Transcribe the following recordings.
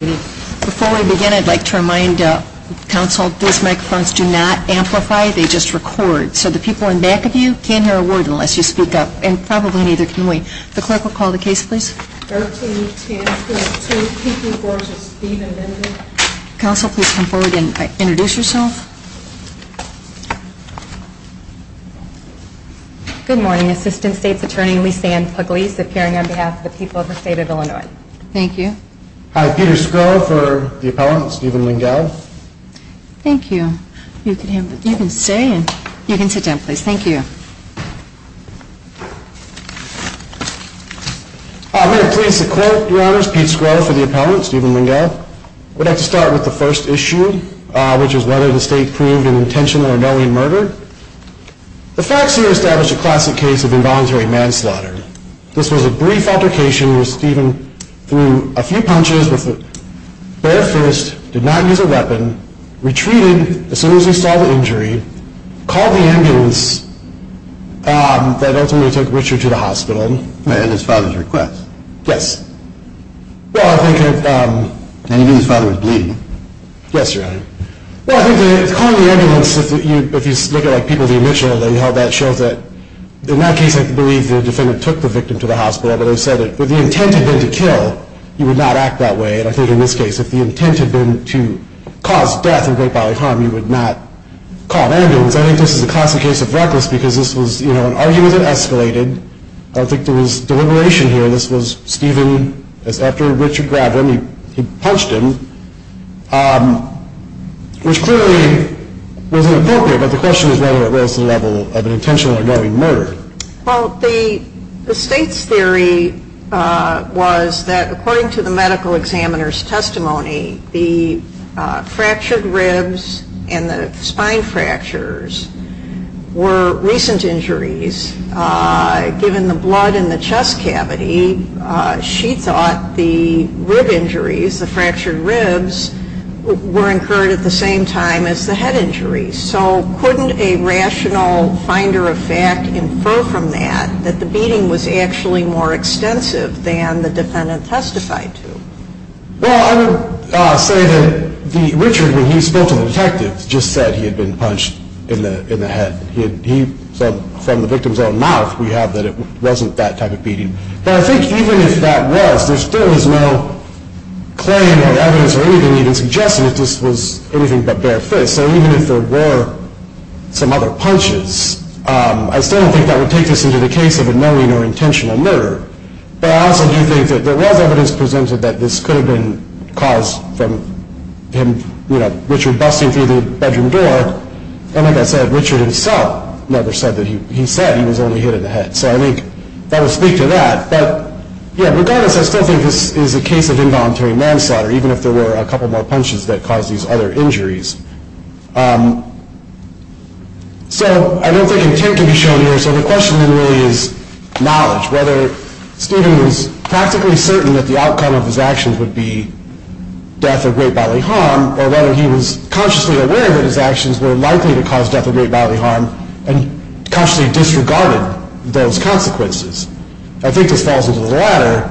Before we begin, I'd like to remind Council, these microphones do not amplify, they just record. So the people in back of you can't hear a word unless you speak up, and probably neither can we. The clerk will call the case, please. 13-10-22, PQ-4 to Steve and Linda. Council, please come forward and introduce yourself. Good morning. Assistant State's Attorney Lisanne Pugliese, appearing on behalf of the people of the State of Illinois. Thank you. Hi, Peter Skrull for the appellant, Stephen Lengyel. Thank you. You can sit down, please. Thank you. I'm very pleased to quote, Your Honors, Pete Skrull for the appellant, Stephen Lengyel. We'd like to start with the first issue, which is whether the State proved an intentional or knowing murder. The facts here establish a classic case of involuntary manslaughter. This was a brief altercation where Stephen threw a few punches with a bare fist, did not use a weapon, retreated as soon as he saw the injury, called the ambulance that ultimately took Richard to the hospital. At his father's request? Yes. And he knew his father was bleeding? Yes, Your Honor. Well, I think that calling the ambulance, if you look at people, the initial that he held that shows that in that case, I believe the defendant took the bullet and took the victim to the hospital, but they said that if the intent had been to kill, he would not act that way. And I think in this case, if the intent had been to cause death and great bodily harm, he would not call an ambulance. I think this is a classic case of reckless because this was, you know, an argument that escalated. I don't think there was deliberation here. This was Stephen, after Richard grabbed him, he punched him, which clearly was inappropriate, but the question is whether it was the level of an intentional or knowing murder. Well, the State's theory was that according to the medical examiner's testimony, the fractured ribs and the spine fractures were recent injuries. Given the blood in the chest cavity, she thought the rib injuries, the fractured ribs, were incurred at the same time as the head injuries. So couldn't a rational finder of fact infer from that that the beating was actually more extensive than the defendant testified to? Well, I would say that Richard, when he spoke to the detective, just said he had been punched in the head. From the victim's own mouth, we have that it wasn't that type of beating. But I think even if that was, there still was no claim or evidence or anything even to suggest that this was anything but bare fists. So even if there were some other punches, I still don't think that would take this into the case of a knowing or intentional murder. But I also do think that there was evidence presented that this could have been caused from him, you know, Richard busting through the bedroom door. And like I said, Richard himself never said that he, he said he was only hit in the head. So I think that would speak to that. But yeah, regardless, I still think this is a case of involuntary manslaughter, even if there were a couple more punches that caused these other injuries. So I don't think intent can be shown here. So the question then really is knowledge, whether Stephen was practically certain that the outcome of his actions would be death of great bodily harm, or whether he was consciously aware that his actions were likely to cause death of great bodily harm, and consciously disregarded those consequences. I think this falls into the latter.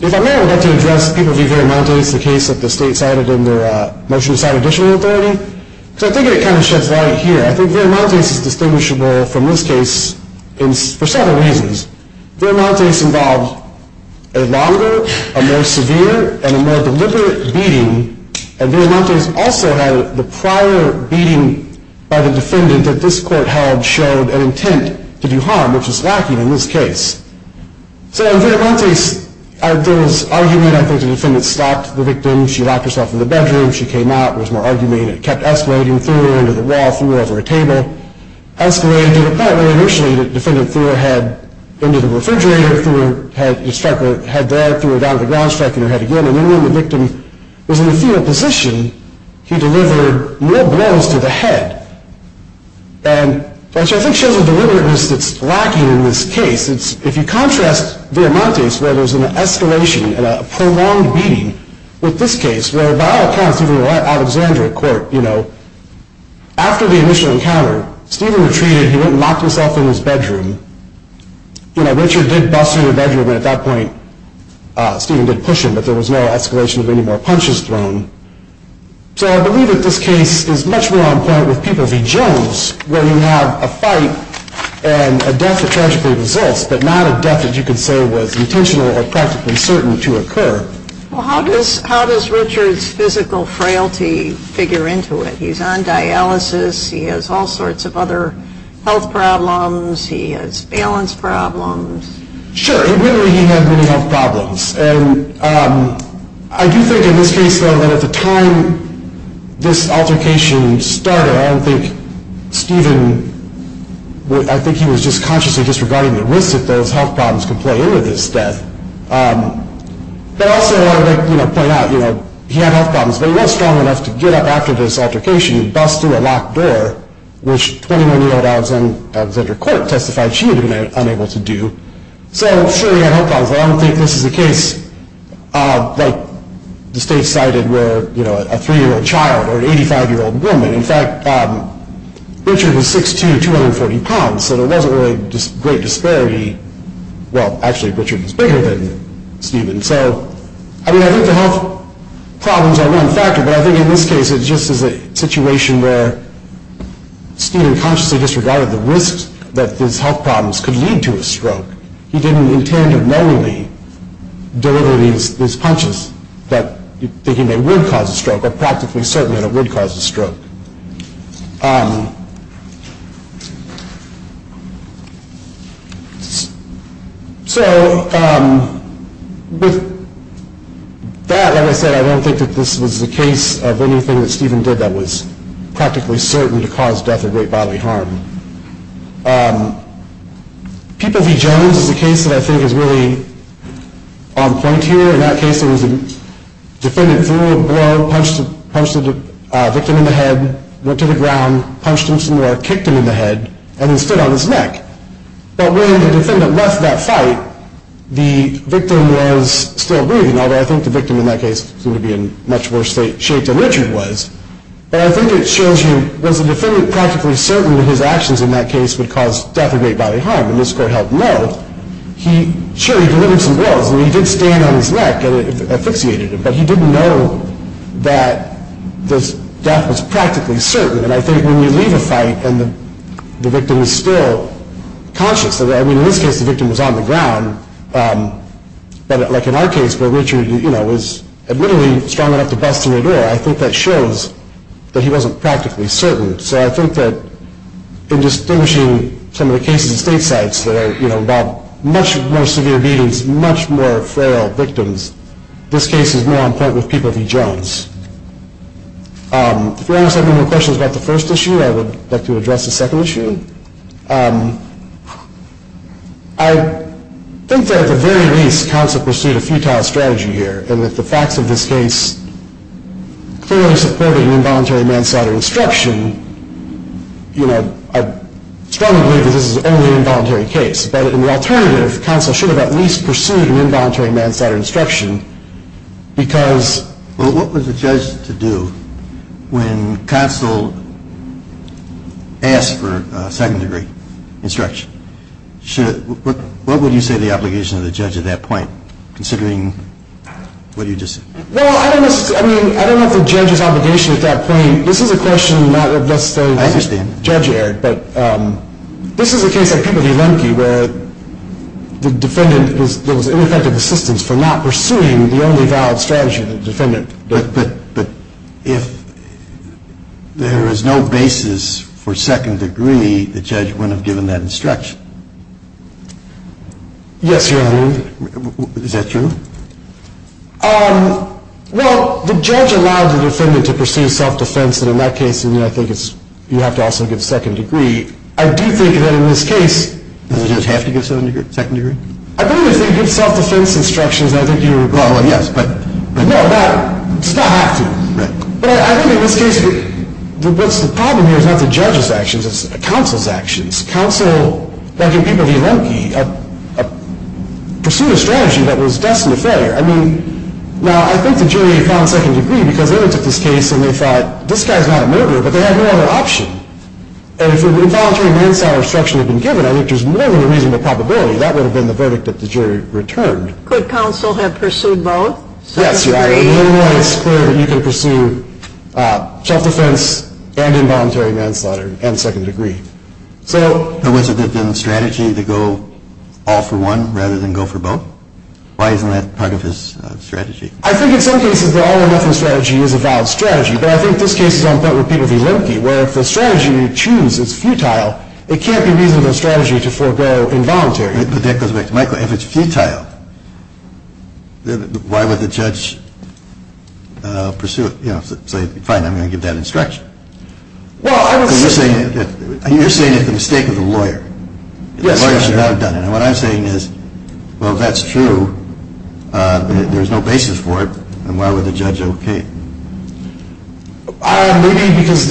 If I may, I would like to address the case of Viramontes, the case that the state cited in the motion to sign additional authority. Because I think it kind of sheds light here. I think Viramontes is distinguishable from this case for several reasons. Viramontes involved a longer, a more severe, and a more deliberate beating. And Viramontes also had the prior beating by the defendant that this court held showed an intent to do harm, which was lacking in this case. So in Viramontes, there was argument. I think the defendant stopped the victim. She locked herself in the bedroom. She came out. There was more argument. It kept escalating through her, into the wall, through over a table, escalated to the point where initially the defendant threw her head into the refrigerator, threw her head, struck her head there, threw her down to the ground, struck her head again. And then when the victim was in the fetal position, he delivered more blows to the head. And, which I think shows the deliberateness that's lacking in this case. If you contrast Viramontes, where there's an escalation and a prolonged beating, with this case, where by all accounts, even the Alexandria court, you know, after the initial encounter, Stephen retreated. He went and locked himself in his bedroom. You know, Richard did bust through the bedroom, and at that point, Stephen did push him, but there was no escalation of any So I believe that this case is much more on point with people v. Jones, where you have a fight and a death that tragically results, but not a death that you can say was intentional or practically certain to occur. Well, how does Richard's physical frailty figure into it? He's on dialysis. He has all sorts of other health problems. He has balance problems. Sure. He really had many health problems. And I do think in this case, though, that at the time this altercation started, I don't think Stephen, I think he was just consciously disregarding the risk that those health problems could play into this death. But also, I would like to point out, you know, he had health problems, but he was strong enough to get up after this altercation and bust through a locked door, which 21-year-old Alexandra Court testified she had been unable to do. So, surely he had health problems. I don't think this is a case like the state cited where, you know, a 3-year-old child or an 85-year-old woman, in fact, Richard was 6'2", 240 pounds, so there wasn't really great disparity. Well, actually, Richard was bigger than Stephen. So, I mean, I think the health problems are one factor, but I think in this case, it's this is a situation where Stephen consciously disregarded the risk that these health problems could lead to a stroke. He didn't intend of knowingly deliver these punches, thinking they would cause a stroke, or practically certain that it would cause a stroke. So, with that, like I said, I don't think that this was a case of anything that Stephen did that was practically certain to cause death or great bodily harm. People v. Jones is a case that I think is really on point here. In that case, it was punched him some more, kicked him in the head, and then stood on his neck. But when the defendant left that fight, the victim was still breathing, although I think the victim in that case seemed to be in much worse shape than Richard was. But I think it shows you, was the defendant practically certain that his actions in that case would cause death or great bodily harm? And this court held no. Sure, he delivered some blows, and he did stand on his neck, and it asphyxiated him, but he didn't know that death was practically certain. And I think when you leave a fight, and the victim is still conscious, I mean in this case the victim was on the ground, but like in our case where Richard was admittedly strong enough to bust in the door, I think that shows that he wasn't practically certain. So I think that in distinguishing some of the cases at state sites that are about much more likely to be involved in a fight, I think it's important to make a strong point with people of E. Jones. If you want to ask any more questions about the first issue, I would like to address the second issue. I think that at the very least, counsel pursued a futile strategy here, and that the facts of this case clearly supported an involuntary manslaughter instruction. You know, I strongly believe that this is only an involuntary case, but in the alternative, counsel should have at least pursued an involuntary manslaughter instruction, because... Well, what was the judge to do when counsel asked for second degree instruction? What would you say the obligation of the judge at that point, considering what you just said? Well, I don't know if the judge's obligation at that point, this is a question not necessarily... I understand. The judge erred, but this is a case like Peabody-Lemke, where the defendant was... there was ineffective assistance for not pursuing the only valid strategy that the defendant... But if there is no basis for second degree, the judge wouldn't have given that instruction. Yes, Your Honor. Is that true? Well, the judge allowed the defendant to pursue self-defense, and in that case, I think you have to also give second degree. I do think that in this case... Does the judge have to give second degree? I believe if they give self-defense instructions, I think you... Well, yes, but... No, it does not have to. Right. But I think in this case, the problem here is not the judge's actions, it's counsel's actions. Counsel, like in Peabody-Lemke, pursued a strategy that was destined to failure. I mean, now, I think the jury found second degree, because they looked at this case, and they thought, this guy's not a murderer, but they had no other option. And if an involuntary manslaughter instruction had been given, I think there's more than a reasonable probability that would have been the verdict that the jury returned. Could counsel have pursued both? Yes, Your Honor. In any way, it's clear that you can pursue self-defense and involuntary manslaughter and second degree. So... Or was it the strategy to go all for one rather than go for both? Why isn't that part of his strategy? I think in some cases the all-or-nothing strategy is a valid strategy, but I think this case is on point with Peabody-Lemke, where if the strategy you choose is futile, it can't be reasonable strategy to forego involuntary. But that goes back to Michael. If it's futile, why would the judge pursue it? You know, say, fine, I'm going to give that instruction. Well, I would say... You're saying it's the mistake of the lawyer. Yes, Your Honor. The lawyer should not have done it. And what I'm saying is, well, if that's true, there's no basis for it, then why would the judge okay it? Maybe because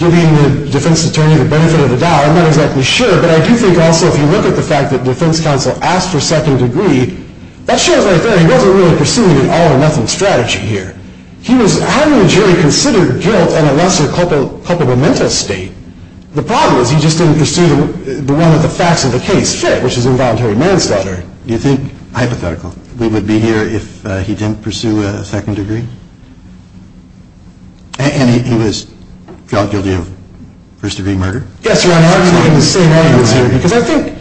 giving the defense attorney the benefit of the doubt. I'm not exactly sure. But I do think also if you look at the fact that the defense counsel asked for second degree, that shows right there he wasn't really pursuing an all-or-nothing strategy here. He was having the jury consider guilt in a lesser culpa momenta state. The problem is he just didn't pursue the one that the facts of the case fit, which is involuntary manslaughter. Do you think, hypothetical, we would be here if he didn't pursue a second degree? And he was found guilty of first-degree murder? Yes, Your Honor. I was making the same arguments here. Because I think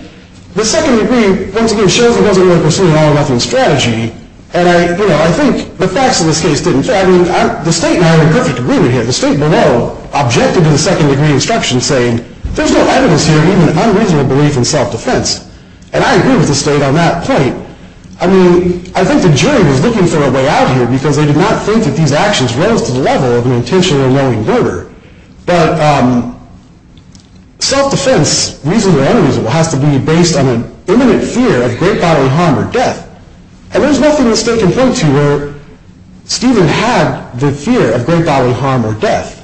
the second degree, once again, shows he wasn't really pursuing an all-or-nothing strategy. And, you know, I think the facts of this case didn't fit. I mean, the state and I are in perfect agreement here. The state below objected to the second degree instruction, saying, there's no evidence here of even unreasonable belief in self-defense. And I agree with the state on that point. I mean, I think the jury was looking for a way out here because they did not think that these actions rose to the level of an intentional or knowing murder. But self-defense, reasonable or unreasonable, has to be based on an imminent fear of great bodily harm or death. And there's nothing the state can point to where Stephen had the fear of great bodily harm or death.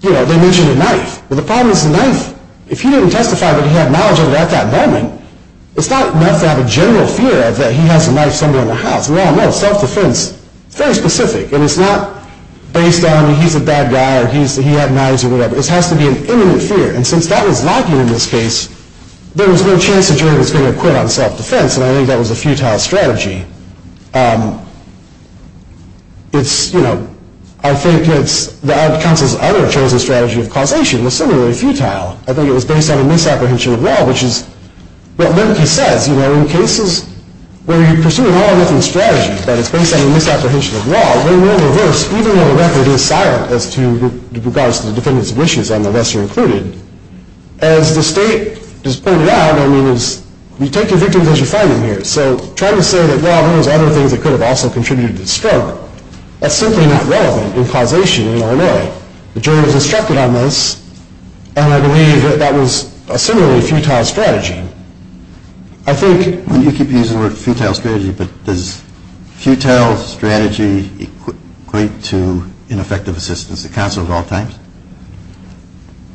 You know, they mentioned a knife. But the problem is the knife, if he didn't testify that he had knowledge of it at that moment, it's not enough to have a general fear that he has a knife somewhere in the house. We all know self-defense is very specific. And it's not based on he's a bad guy or he had knives or whatever. It has to be an imminent fear. And since that was lacking in this case, there was no chance the jury was going to acquit on self-defense. And I think that was a futile strategy. It's, you know, I think it's the ad council's other chosen strategy of causation was similarly futile. I think it was based on a misapprehension of law, which is what Linke says. You know, in cases where you're pursuing all or nothing strategies, but it's based on a misapprehension of law, they will reverse, even though the record is silent as to regards to the defendants' wishes and the lesser included. As the state has pointed out, I mean, you take your victims as you find them here. So trying to say that, well, there was other things that could have also contributed to the stroke, that's simply not relevant in causation in RMA. The jury was instructed on this, and I believe that that was a similarly futile strategy. I think... You keep using the word futile strategy, but does futile strategy equate to ineffective assistance? The counsel of all times?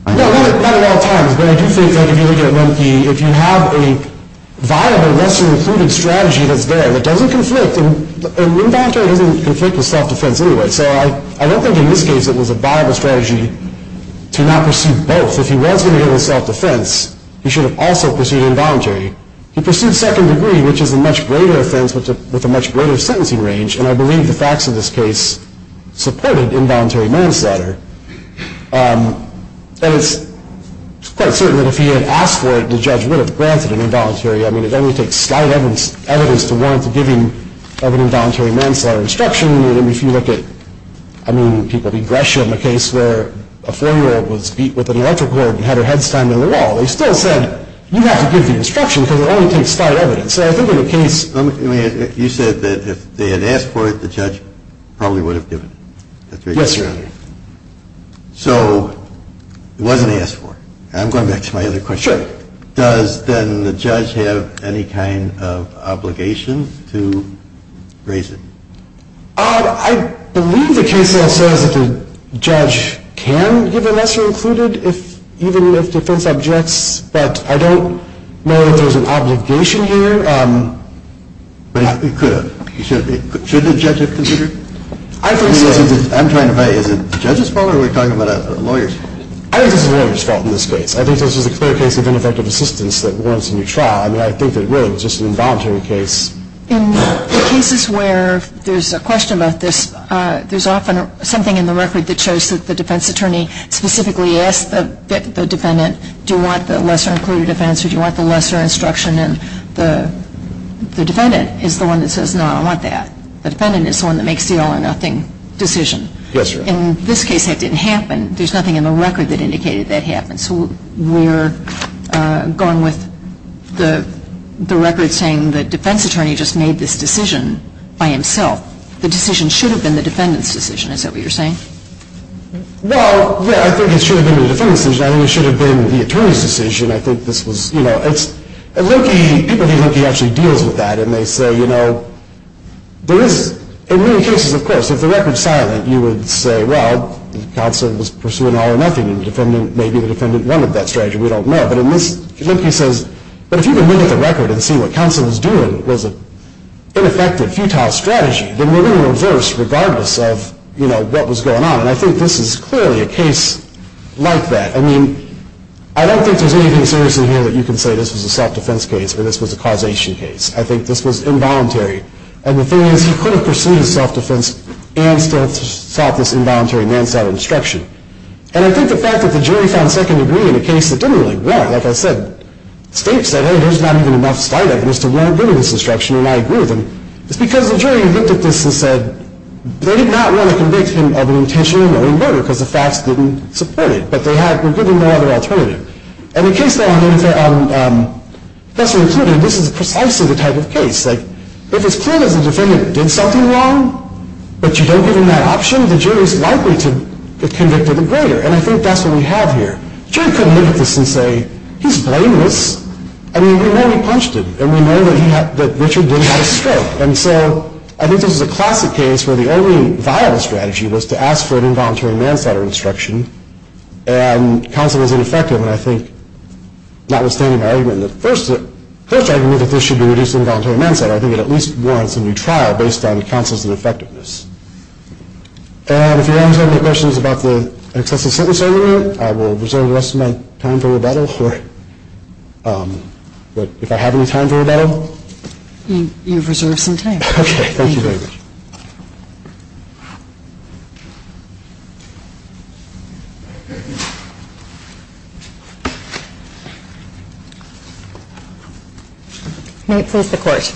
No, not at all times, but I do think that if you look at Linke, if you have a viable lesser included strategy that's there that doesn't conflict, and involuntary doesn't conflict with self-defense anyway, so I don't think in this case it was a viable strategy to not pursue both. If he was going to go with self-defense, he should have also pursued involuntary. He pursued second degree, which is a much greater offense with a much greater sentencing range, and I believe the facts of this case supported involuntary manslaughter. And it's quite certain that if he had asked for it, the judge would have granted an involuntary. I mean, it only takes slight evidence to warrant the giving of an involuntary manslaughter instruction, and if you look at, I mean, people beat Gresham, a case where a four-year-old was beat with an electric cord and had her head slammed on the wall. They still said, you have to give the instruction because it only takes slight evidence, and I think in the case... You said that if they had asked for it, the judge probably would have given it. Yes, sir. Okay. So it wasn't asked for. I'm going back to my other question. Sure. Does then the judge have any kind of obligation to raise it? I believe the case now says that the judge can give a lesser included even if defense objects, but I don't know if there's an obligation here. But it could have. Should the judge have considered it? I'm trying to vet. Is it the judge's fault or are we talking about a lawyer's? I think it's the lawyer's fault in this case. I think this is a clear case of ineffective assistance that warrants a new trial. I mean, I think that it really was just an involuntary case. In cases where there's a question about this, there's often something in the record that shows that the defense attorney specifically asked the defendant, do you want the lesser included offense or do you want the lesser instruction, and the defendant is the one that says, no, I don't want that. The defendant is the one that makes the all or nothing decision. Yes, Your Honor. In this case that didn't happen. There's nothing in the record that indicated that happened. So we're going with the record saying the defense attorney just made this decision by himself. The decision should have been the defendant's decision. Is that what you're saying? Well, yeah, I think it should have been the defendant's decision. I think it should have been the attorney's decision. I think this was, you know, it's, People think Loki actually deals with that and they say, you know, there is, in many cases, of course, if the record's silent, you would say, well, the counsel was pursuing all or nothing and maybe the defendant wanted that strategy, we don't know. But in this, Loki says, but if you can look at the record and see what counsel was doing was an ineffective, futile strategy, then we're going to reverse regardless of, you know, what was going on. And I think this is clearly a case like that. I mean, I don't think there's anything serious in here that you can say this was a self-defense case or this was a causation case. I think this was involuntary. And the thing is, he could have pursued his self-defense and still sought this involuntary manslaughter instruction. And I think the fact that the jury found second degree in a case that didn't really work, like I said, states that, hey, there's not even enough slight evidence to warrant giving this instruction, and I agree with them. It's because the jury looked at this and said, they did not want to convict him of an intentional murder because the facts didn't support it. But they were given no other alternative. And the case that I'm interested in, this is precisely the type of case. Like, if it's clear that the defendant did something wrong, but you don't give him that option, the jury is likely to convict him even greater. And I think that's what we have here. The jury couldn't look at this and say, he's blameless. I mean, we know he punched him, and we know that Richard didn't have a stroke. And so I think this is a classic case where the only viable strategy was to ask for an involuntary manslaughter instruction, and counsel is ineffective. And I think, notwithstanding my argument in the first argument that this should be reduced to involuntary manslaughter, I think it at least warrants a new trial based on counsel's ineffectiveness. And if you have any questions about the excessive sentence argument, I will reserve the rest of my time for rebuttal. But if I have any time for rebuttal? You've reserved some time. Okay, thank you very much. May it please the Court.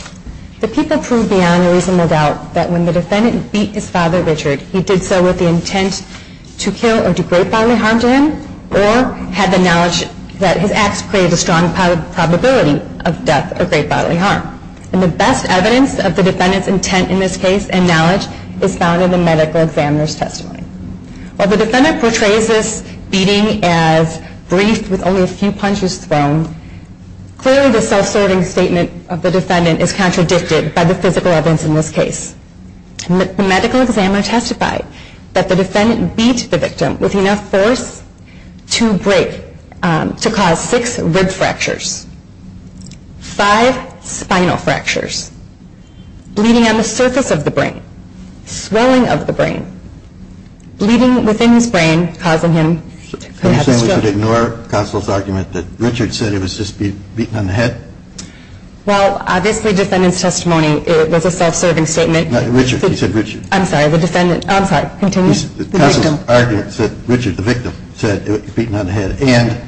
The people proved beyond a reasonable doubt that when the defendant beat his father, Richard, he did so with the intent to kill or do great bodily harm to him, or had the knowledge that his acts created a strong probability of death or great bodily harm. And the best evidence of the defendant's intent in this case and knowledge is found in the medical examiner's testimony. While the defendant portrays this beating as brief with only a few punches thrown, clearly the self-serving statement of the defendant is contradicted by the physical evidence in this case. The medical examiner testified that the defendant beat the victim with enough force to cause six rib fractures, five spinal fractures, bleeding on the surface of the brain, swelling of the brain, bleeding within his brain, causing him to have a stroke. Are you saying we should ignore counsel's argument that Richard said it was just a beating on the head? Well, obviously the defendant's testimony, it was a self-serving statement. Richard, you said Richard. I'm sorry, the defendant. I'm sorry, continue. The counsel's argument said Richard, the victim, said it was a beating on the head. And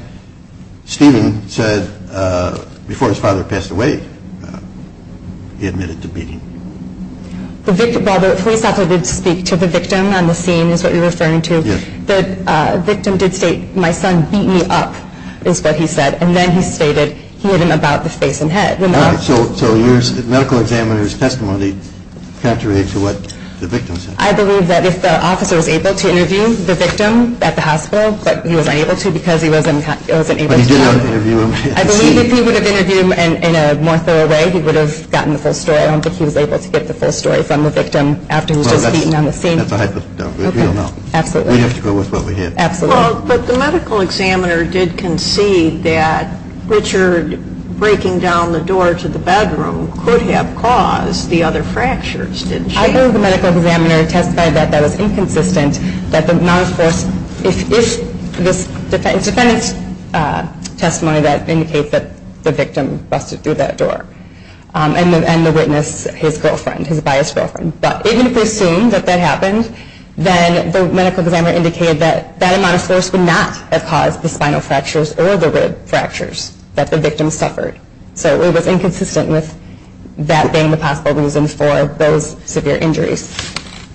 Stephen said before his father passed away he admitted to beating him. While the police officer did speak to the victim on the scene is what you're referring to, the victim did state my son beat me up is what he said. And then he stated he hit him about the face and head. So the medical examiner's testimony countered to what the victim said. I believe that if the officer was able to interview the victim at the hospital, but he was unable to because he wasn't able to talk to him. I believe if he would have interviewed him in a more thorough way he would have gotten the full story. I don't think he was able to get the full story from the victim after he was just beaten on the scene. That's a hypothetical. We don't know. Absolutely. We have to go with what we hear. Absolutely. Well, but the medical examiner did concede that Richard breaking down the door to the bedroom could have caused the other fractures, didn't she? I believe the medical examiner testified that that was inconsistent, that the amount of force if this defendant's testimony that indicates that the victim busted through that door and the witness, his girlfriend, his biased girlfriend. But even if we assume that that happened, then the medical examiner indicated that that amount of force would not have caused the spinal fractures or the rib fractures that the victim suffered. So it was inconsistent with that being the possible reason for those severe injuries.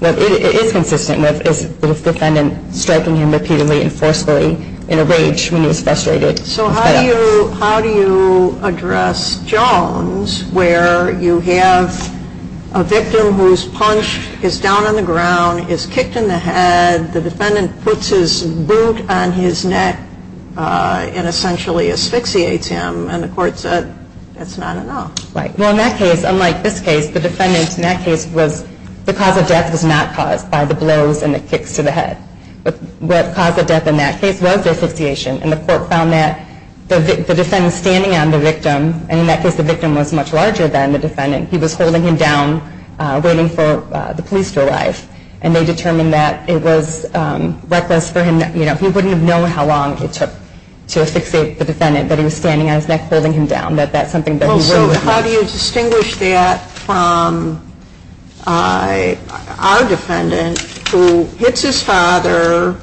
It is consistent with the defendant striking him repeatedly and forcefully in a rage when he was frustrated. So how do you address Jones where you have a victim whose punch is down on the ground, is kicked in the head, the defendant puts his boot on his neck and essentially asphyxiates him, and the court said that's not enough. Well, in that case, unlike this case, the defendant in that case was, the cause of death was not caused by the blows and the kicks to the head. What caused the death in that case was the asphyxiation, and the court found that the defendant standing on the victim, and in that case the victim was much larger than the defendant, he was holding him down waiting for the police to arrive, and they determined that it was reckless for him, he wouldn't have known how long it took to asphyxiate the defendant, that he was standing on his neck holding him down, that that's something that he wouldn't have known. So how do you distinguish that from our defendant who hits his father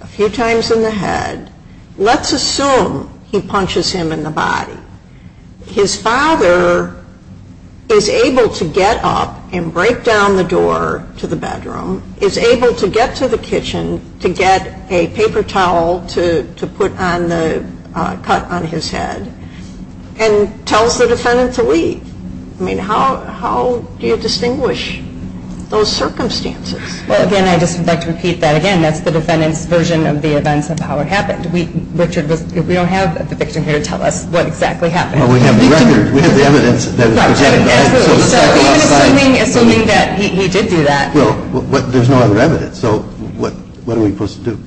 a few times in the head? Let's assume he punches him in the body. His father is able to get up and break down the door to the bedroom, is able to get to the kitchen to get a paper towel to put on the cut on his head, and tells the defendant to leave. I mean, how do you distinguish those circumstances? Well, again, I just would like to repeat that again, that's the defendant's version of the events of how it happened. We don't have the victim here to tell us what exactly happened. Well, we have the record. We have the evidence. So even assuming that he did do that. Well, there's no other evidence, so what are we supposed to do?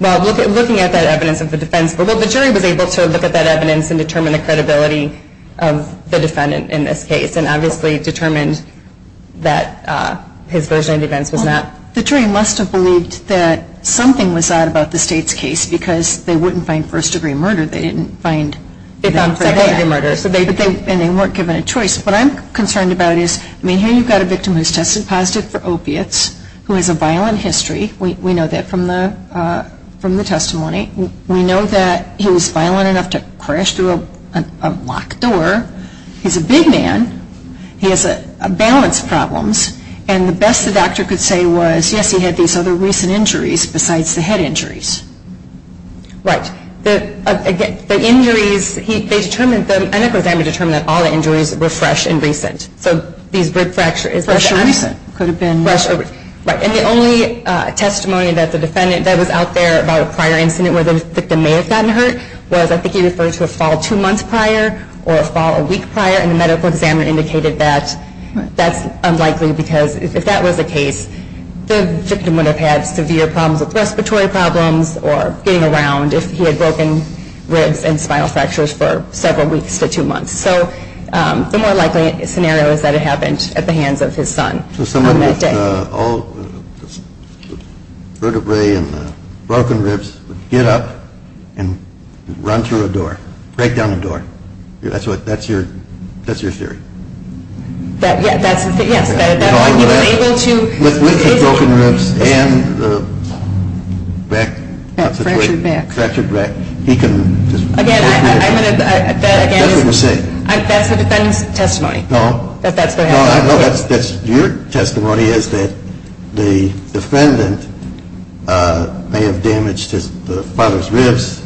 Well, looking at that evidence of the defense, well, the jury was able to look at that evidence and determine the credibility of the defendant in this case and obviously determined that his version of the events was not. The jury must have believed that something was odd about the state's case because they wouldn't find first-degree murder. They didn't find first-degree murder. And they weren't given a choice. What I'm concerned about is, I mean, here you've got a victim who's tested positive for opiates, who has a violent history. We know that from the testimony. We know that he was violent enough to crash through a locked door. He's a big man. He has balance problems. And the best the doctor could say was, yes, he had these other recent injuries besides the head injuries. Right. The injuries, they determined them, and of course they had to determine that all the injuries were fresh and recent. So these rib fractures. Fresh and recent. Could have been. Right. And the only testimony that was out there about a prior incident where the victim may have gotten hurt was, I think he referred to a fall two months prior or a fall a week prior, and the medical examiner indicated that that's unlikely because if that was the case, the victim would have had severe problems with respiratory problems or getting around if he had broken ribs and spinal fractures for several weeks to two months. So the more likely scenario is that it happened at the hands of his son. So someone with all the vertebrae and the broken ribs would get up and run through a door, break down a door. That's your theory? Yes. He was able to. With the broken ribs and the fractured back, he can just. Again, I'm going to. That's what you're saying. That's the defendant's testimony. No. That's your testimony is that the defendant may have damaged the father's ribs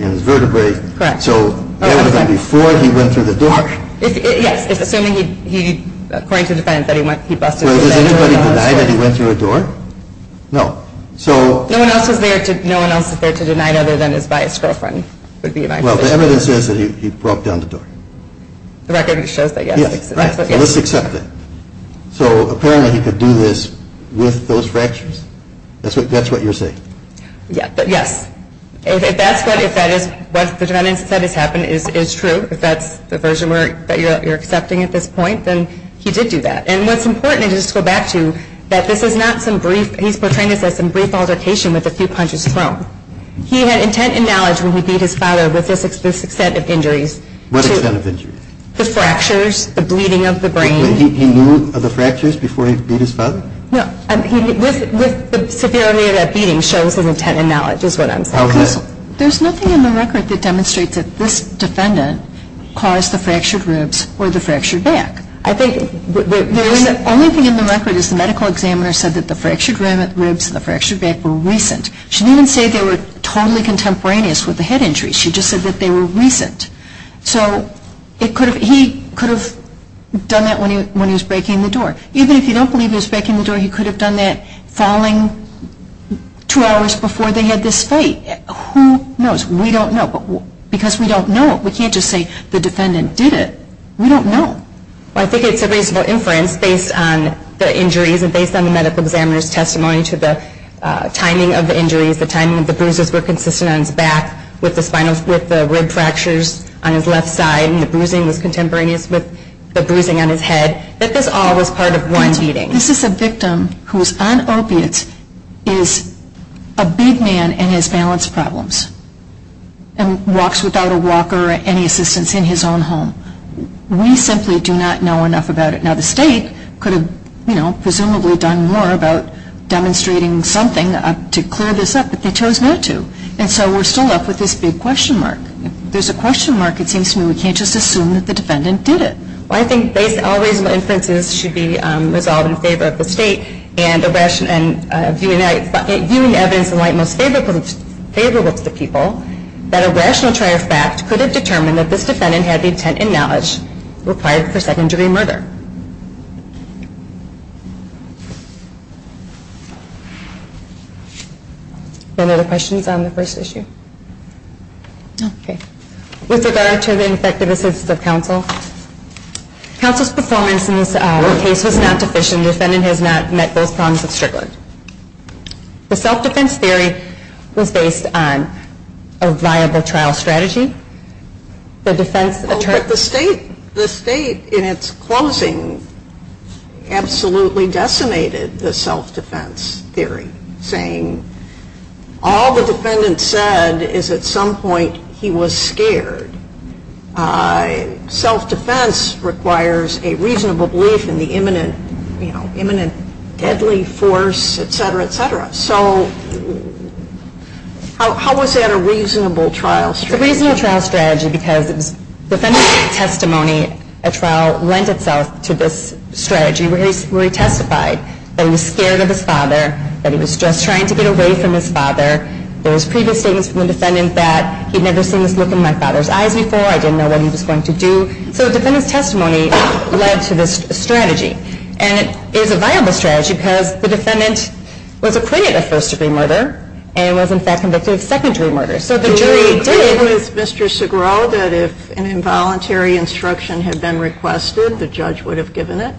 and vertebrae. Correct. So that was before he went through the door. Yes. It's assuming he, according to the defendant, that he busted through the door. Well, has anybody denied that he went through a door? No. No one else is there to deny other than his biased girlfriend would be my position. The record shows that, yes. Let's accept it. So apparently he could do this with those fractures? That's what you're saying? Yes. If that's what the defendant said has happened, it's true. If that's the version that you're accepting at this point, then he did do that. And what's important, just to go back to, that this is not some brief. He's portraying this as some brief altercation with a few punches thrown. He had intent and knowledge when he beat his father with this extent of injuries. What extent of injuries? The fractures, the bleeding of the brain. He knew of the fractures before he beat his father? No. With the severity of that beating shows an intent and knowledge is what I'm saying. How is that? There's nothing in the record that demonstrates that this defendant caused the fractured ribs or the fractured back. I think the only thing in the record is the medical examiner said that the fractured ribs and the fractured back were recent. She didn't say they were totally contemporaneous with the head injuries. She just said that they were recent. So he could have done that when he was breaking the door. Even if you don't believe he was breaking the door, he could have done that falling two hours before they had this fate. Who knows? We don't know. Because we don't know, we can't just say the defendant did it. We don't know. I think it's a reasonable inference based on the injuries and based on the medical examiner's testimony to the timing of the injuries, the timing of the bruises were consistent on his back with the rib fractures on his left side and the bruising was contemporaneous with the bruising on his head, that this all was part of one beating. This is a victim who is on opiates, is a big man and has balance problems and walks without a walker or any assistance in his own home. We simply do not know enough about it. Now the state could have presumably done more about demonstrating something to clear this up, but they chose not to. And so we're still left with this big question mark. If there's a question mark, it seems to me we can't just assume that the defendant did it. I think based on all reasonable inferences should be resolved in favor of the state and viewing evidence in light most favorable to the people, that a rational try of fact could have determined that this defendant had the intent and knowledge required for second degree murder. Any other questions on the first issue? No. Okay. With regard to the ineffective assistance of counsel, counsel's performance in this case was not deficient. The defendant has not met both prongs of Strickland. The self-defense theory was based on a viable trial strategy. The defense attorney The state in its closing absolutely decimated the self-defense theory, saying all the defendant said is at some point he was scared. Self-defense requires a reasonable belief in the imminent deadly force, et cetera, et cetera. So how was that a reasonable trial strategy? It's a reasonable trial strategy because the defendant's testimony, a trial lent itself to this strategy where he testified that he was scared of his father, that he was just trying to get away from his father. There was previous statements from the defendant that he'd never seen this look in my father's eyes before. I didn't know what he was going to do. So the defendant's testimony led to this strategy. And it is a viable strategy because the defendant was acquitted of first degree murder and was in fact convicted of second degree murder. So the jury did Do we agree with Mr. Segral that if an involuntary instruction had been requested, the judge would have given it?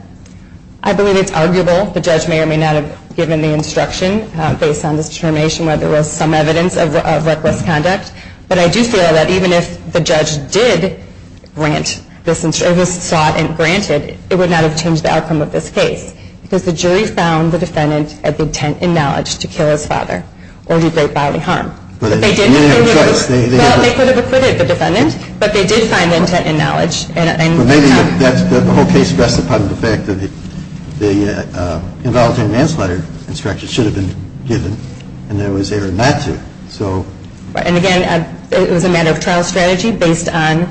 I believe it's arguable. The judge may or may not have given the instruction based on this determination where there was some evidence of reckless conduct. But I do feel that even if the judge did grant this instruction, sought and granted, it would not have changed the outcome of this case because the jury found the defendant of intent and knowledge to kill his father or do great bodily harm. But they didn't think it was Well, they could have acquitted the defendant, but they did find intent and knowledge. But maybe the whole case rests upon the fact that the involuntary manslaughter instruction should have been given and there was error not to. And again, it was a matter of trial strategy based on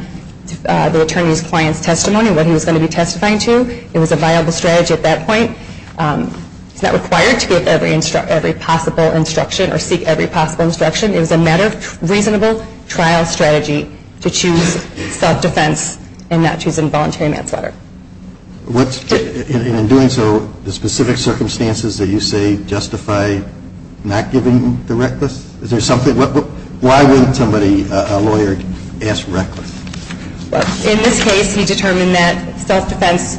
the attorney's client's testimony, what he was going to be testifying to. It was a viable strategy at that point. It's not required to get every possible instruction or seek every possible instruction. It was a matter of reasonable trial strategy to choose self-defense and not choose involuntary manslaughter. And in doing so, the specific circumstances that you say justify not giving the reckless? Is there something? Why wouldn't somebody, a lawyer, ask reckless? In this case, he determined that self-defense,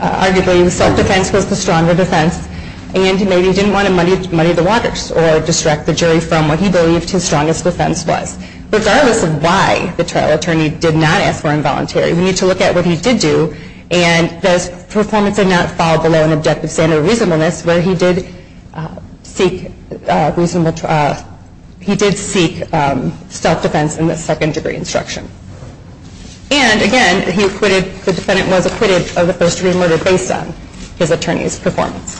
arguably self-defense was the stronger defense and he maybe didn't want to muddy the waters or distract the jury from what he believed his strongest defense was. Regardless of why the trial attorney did not ask for involuntary, we need to look at what he did do and does performance not fall below an objective standard of reasonableness where he did seek self-defense in the second degree instruction. And again, he acquitted, the defendant was acquitted of the first degree murder based on his attorney's performance.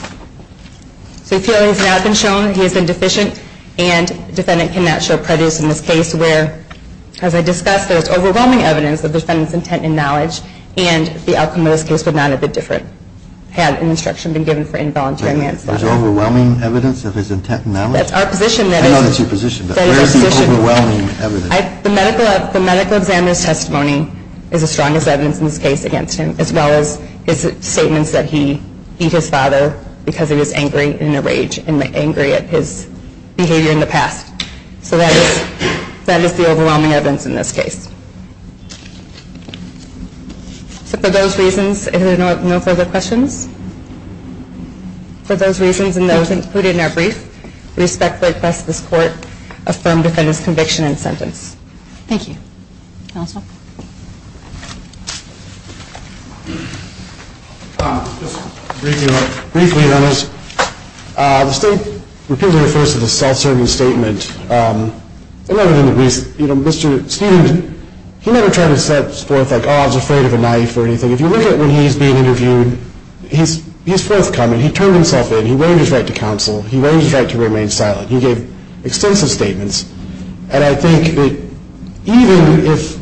So we feel he's not been shown, he's been deficient, and the defendant cannot show prejudice in this case where, as I discussed, there's overwhelming evidence of the defendant's intent and knowledge and the outcome of this case would not have been different had an instruction been given for involuntary manslaughter. There's overwhelming evidence of his intent and knowledge? That's our position. I know that's your position, but where is the overwhelming evidence? The medical examiner's testimony is the strongest evidence in this case against him as well as his statements that he beat his father because he was angry and enraged and angry at his behavior in the past. So that is the overwhelming evidence in this case. So for those reasons, if there are no further questions, for those reasons and those included in our brief, we respectfully request that this court affirm the defendant's conviction and sentence. Thank you. Counsel? Just briefly, Your Honor, the state repeatedly refers to the self-serving statement. Mr. Stevens, he never tried to set forth, like, oh, I was afraid of a knife or anything. If you look at when he's being interviewed, he's forthcoming. He turned himself in. He waived his right to counsel. He waived his right to remain silent. He gave extensive statements. And I think that even if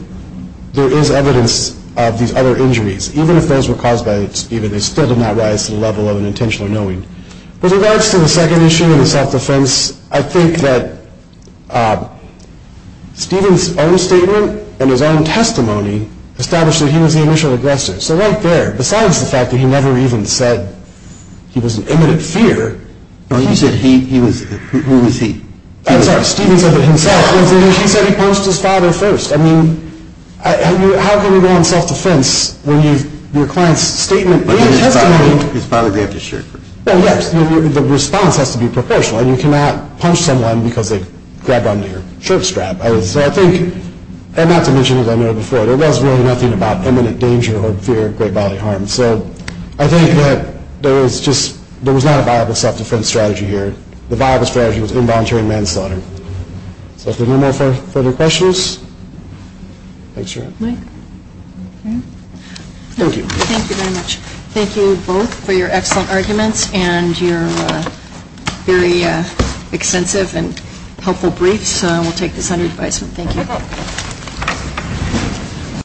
there is evidence of these other injuries, even if those were caused by Steven, they still did not rise to the level of an intentional knowing. With regards to the second issue and the self-defense, I think that Steven's own statement and his own testimony established that he was the initial aggressor. So right there, besides the fact that he never even said he was an imminent fear. No, you said he was. Who was he? I'm sorry. Steven said it himself. He said he punched his father first. I mean, how can you go on self-defense when your client's statement, his testimony. His father grabbed his shirt first. Well, yes. The response has to be proportional. And you cannot punch someone because they grabbed onto your shirt strap, I would say. And not to mention, as I noted before, there was really nothing about imminent danger or fear of great bodily harm. So I think that there was not a viable self-defense strategy here. The viable strategy was involuntary manslaughter. So if there are no further questions. Thanks, Sharon. Thank you. Thank you very much. Thank you both for your excellent arguments and your very extensive and helpful briefs. We'll take this under advisement. Thank you.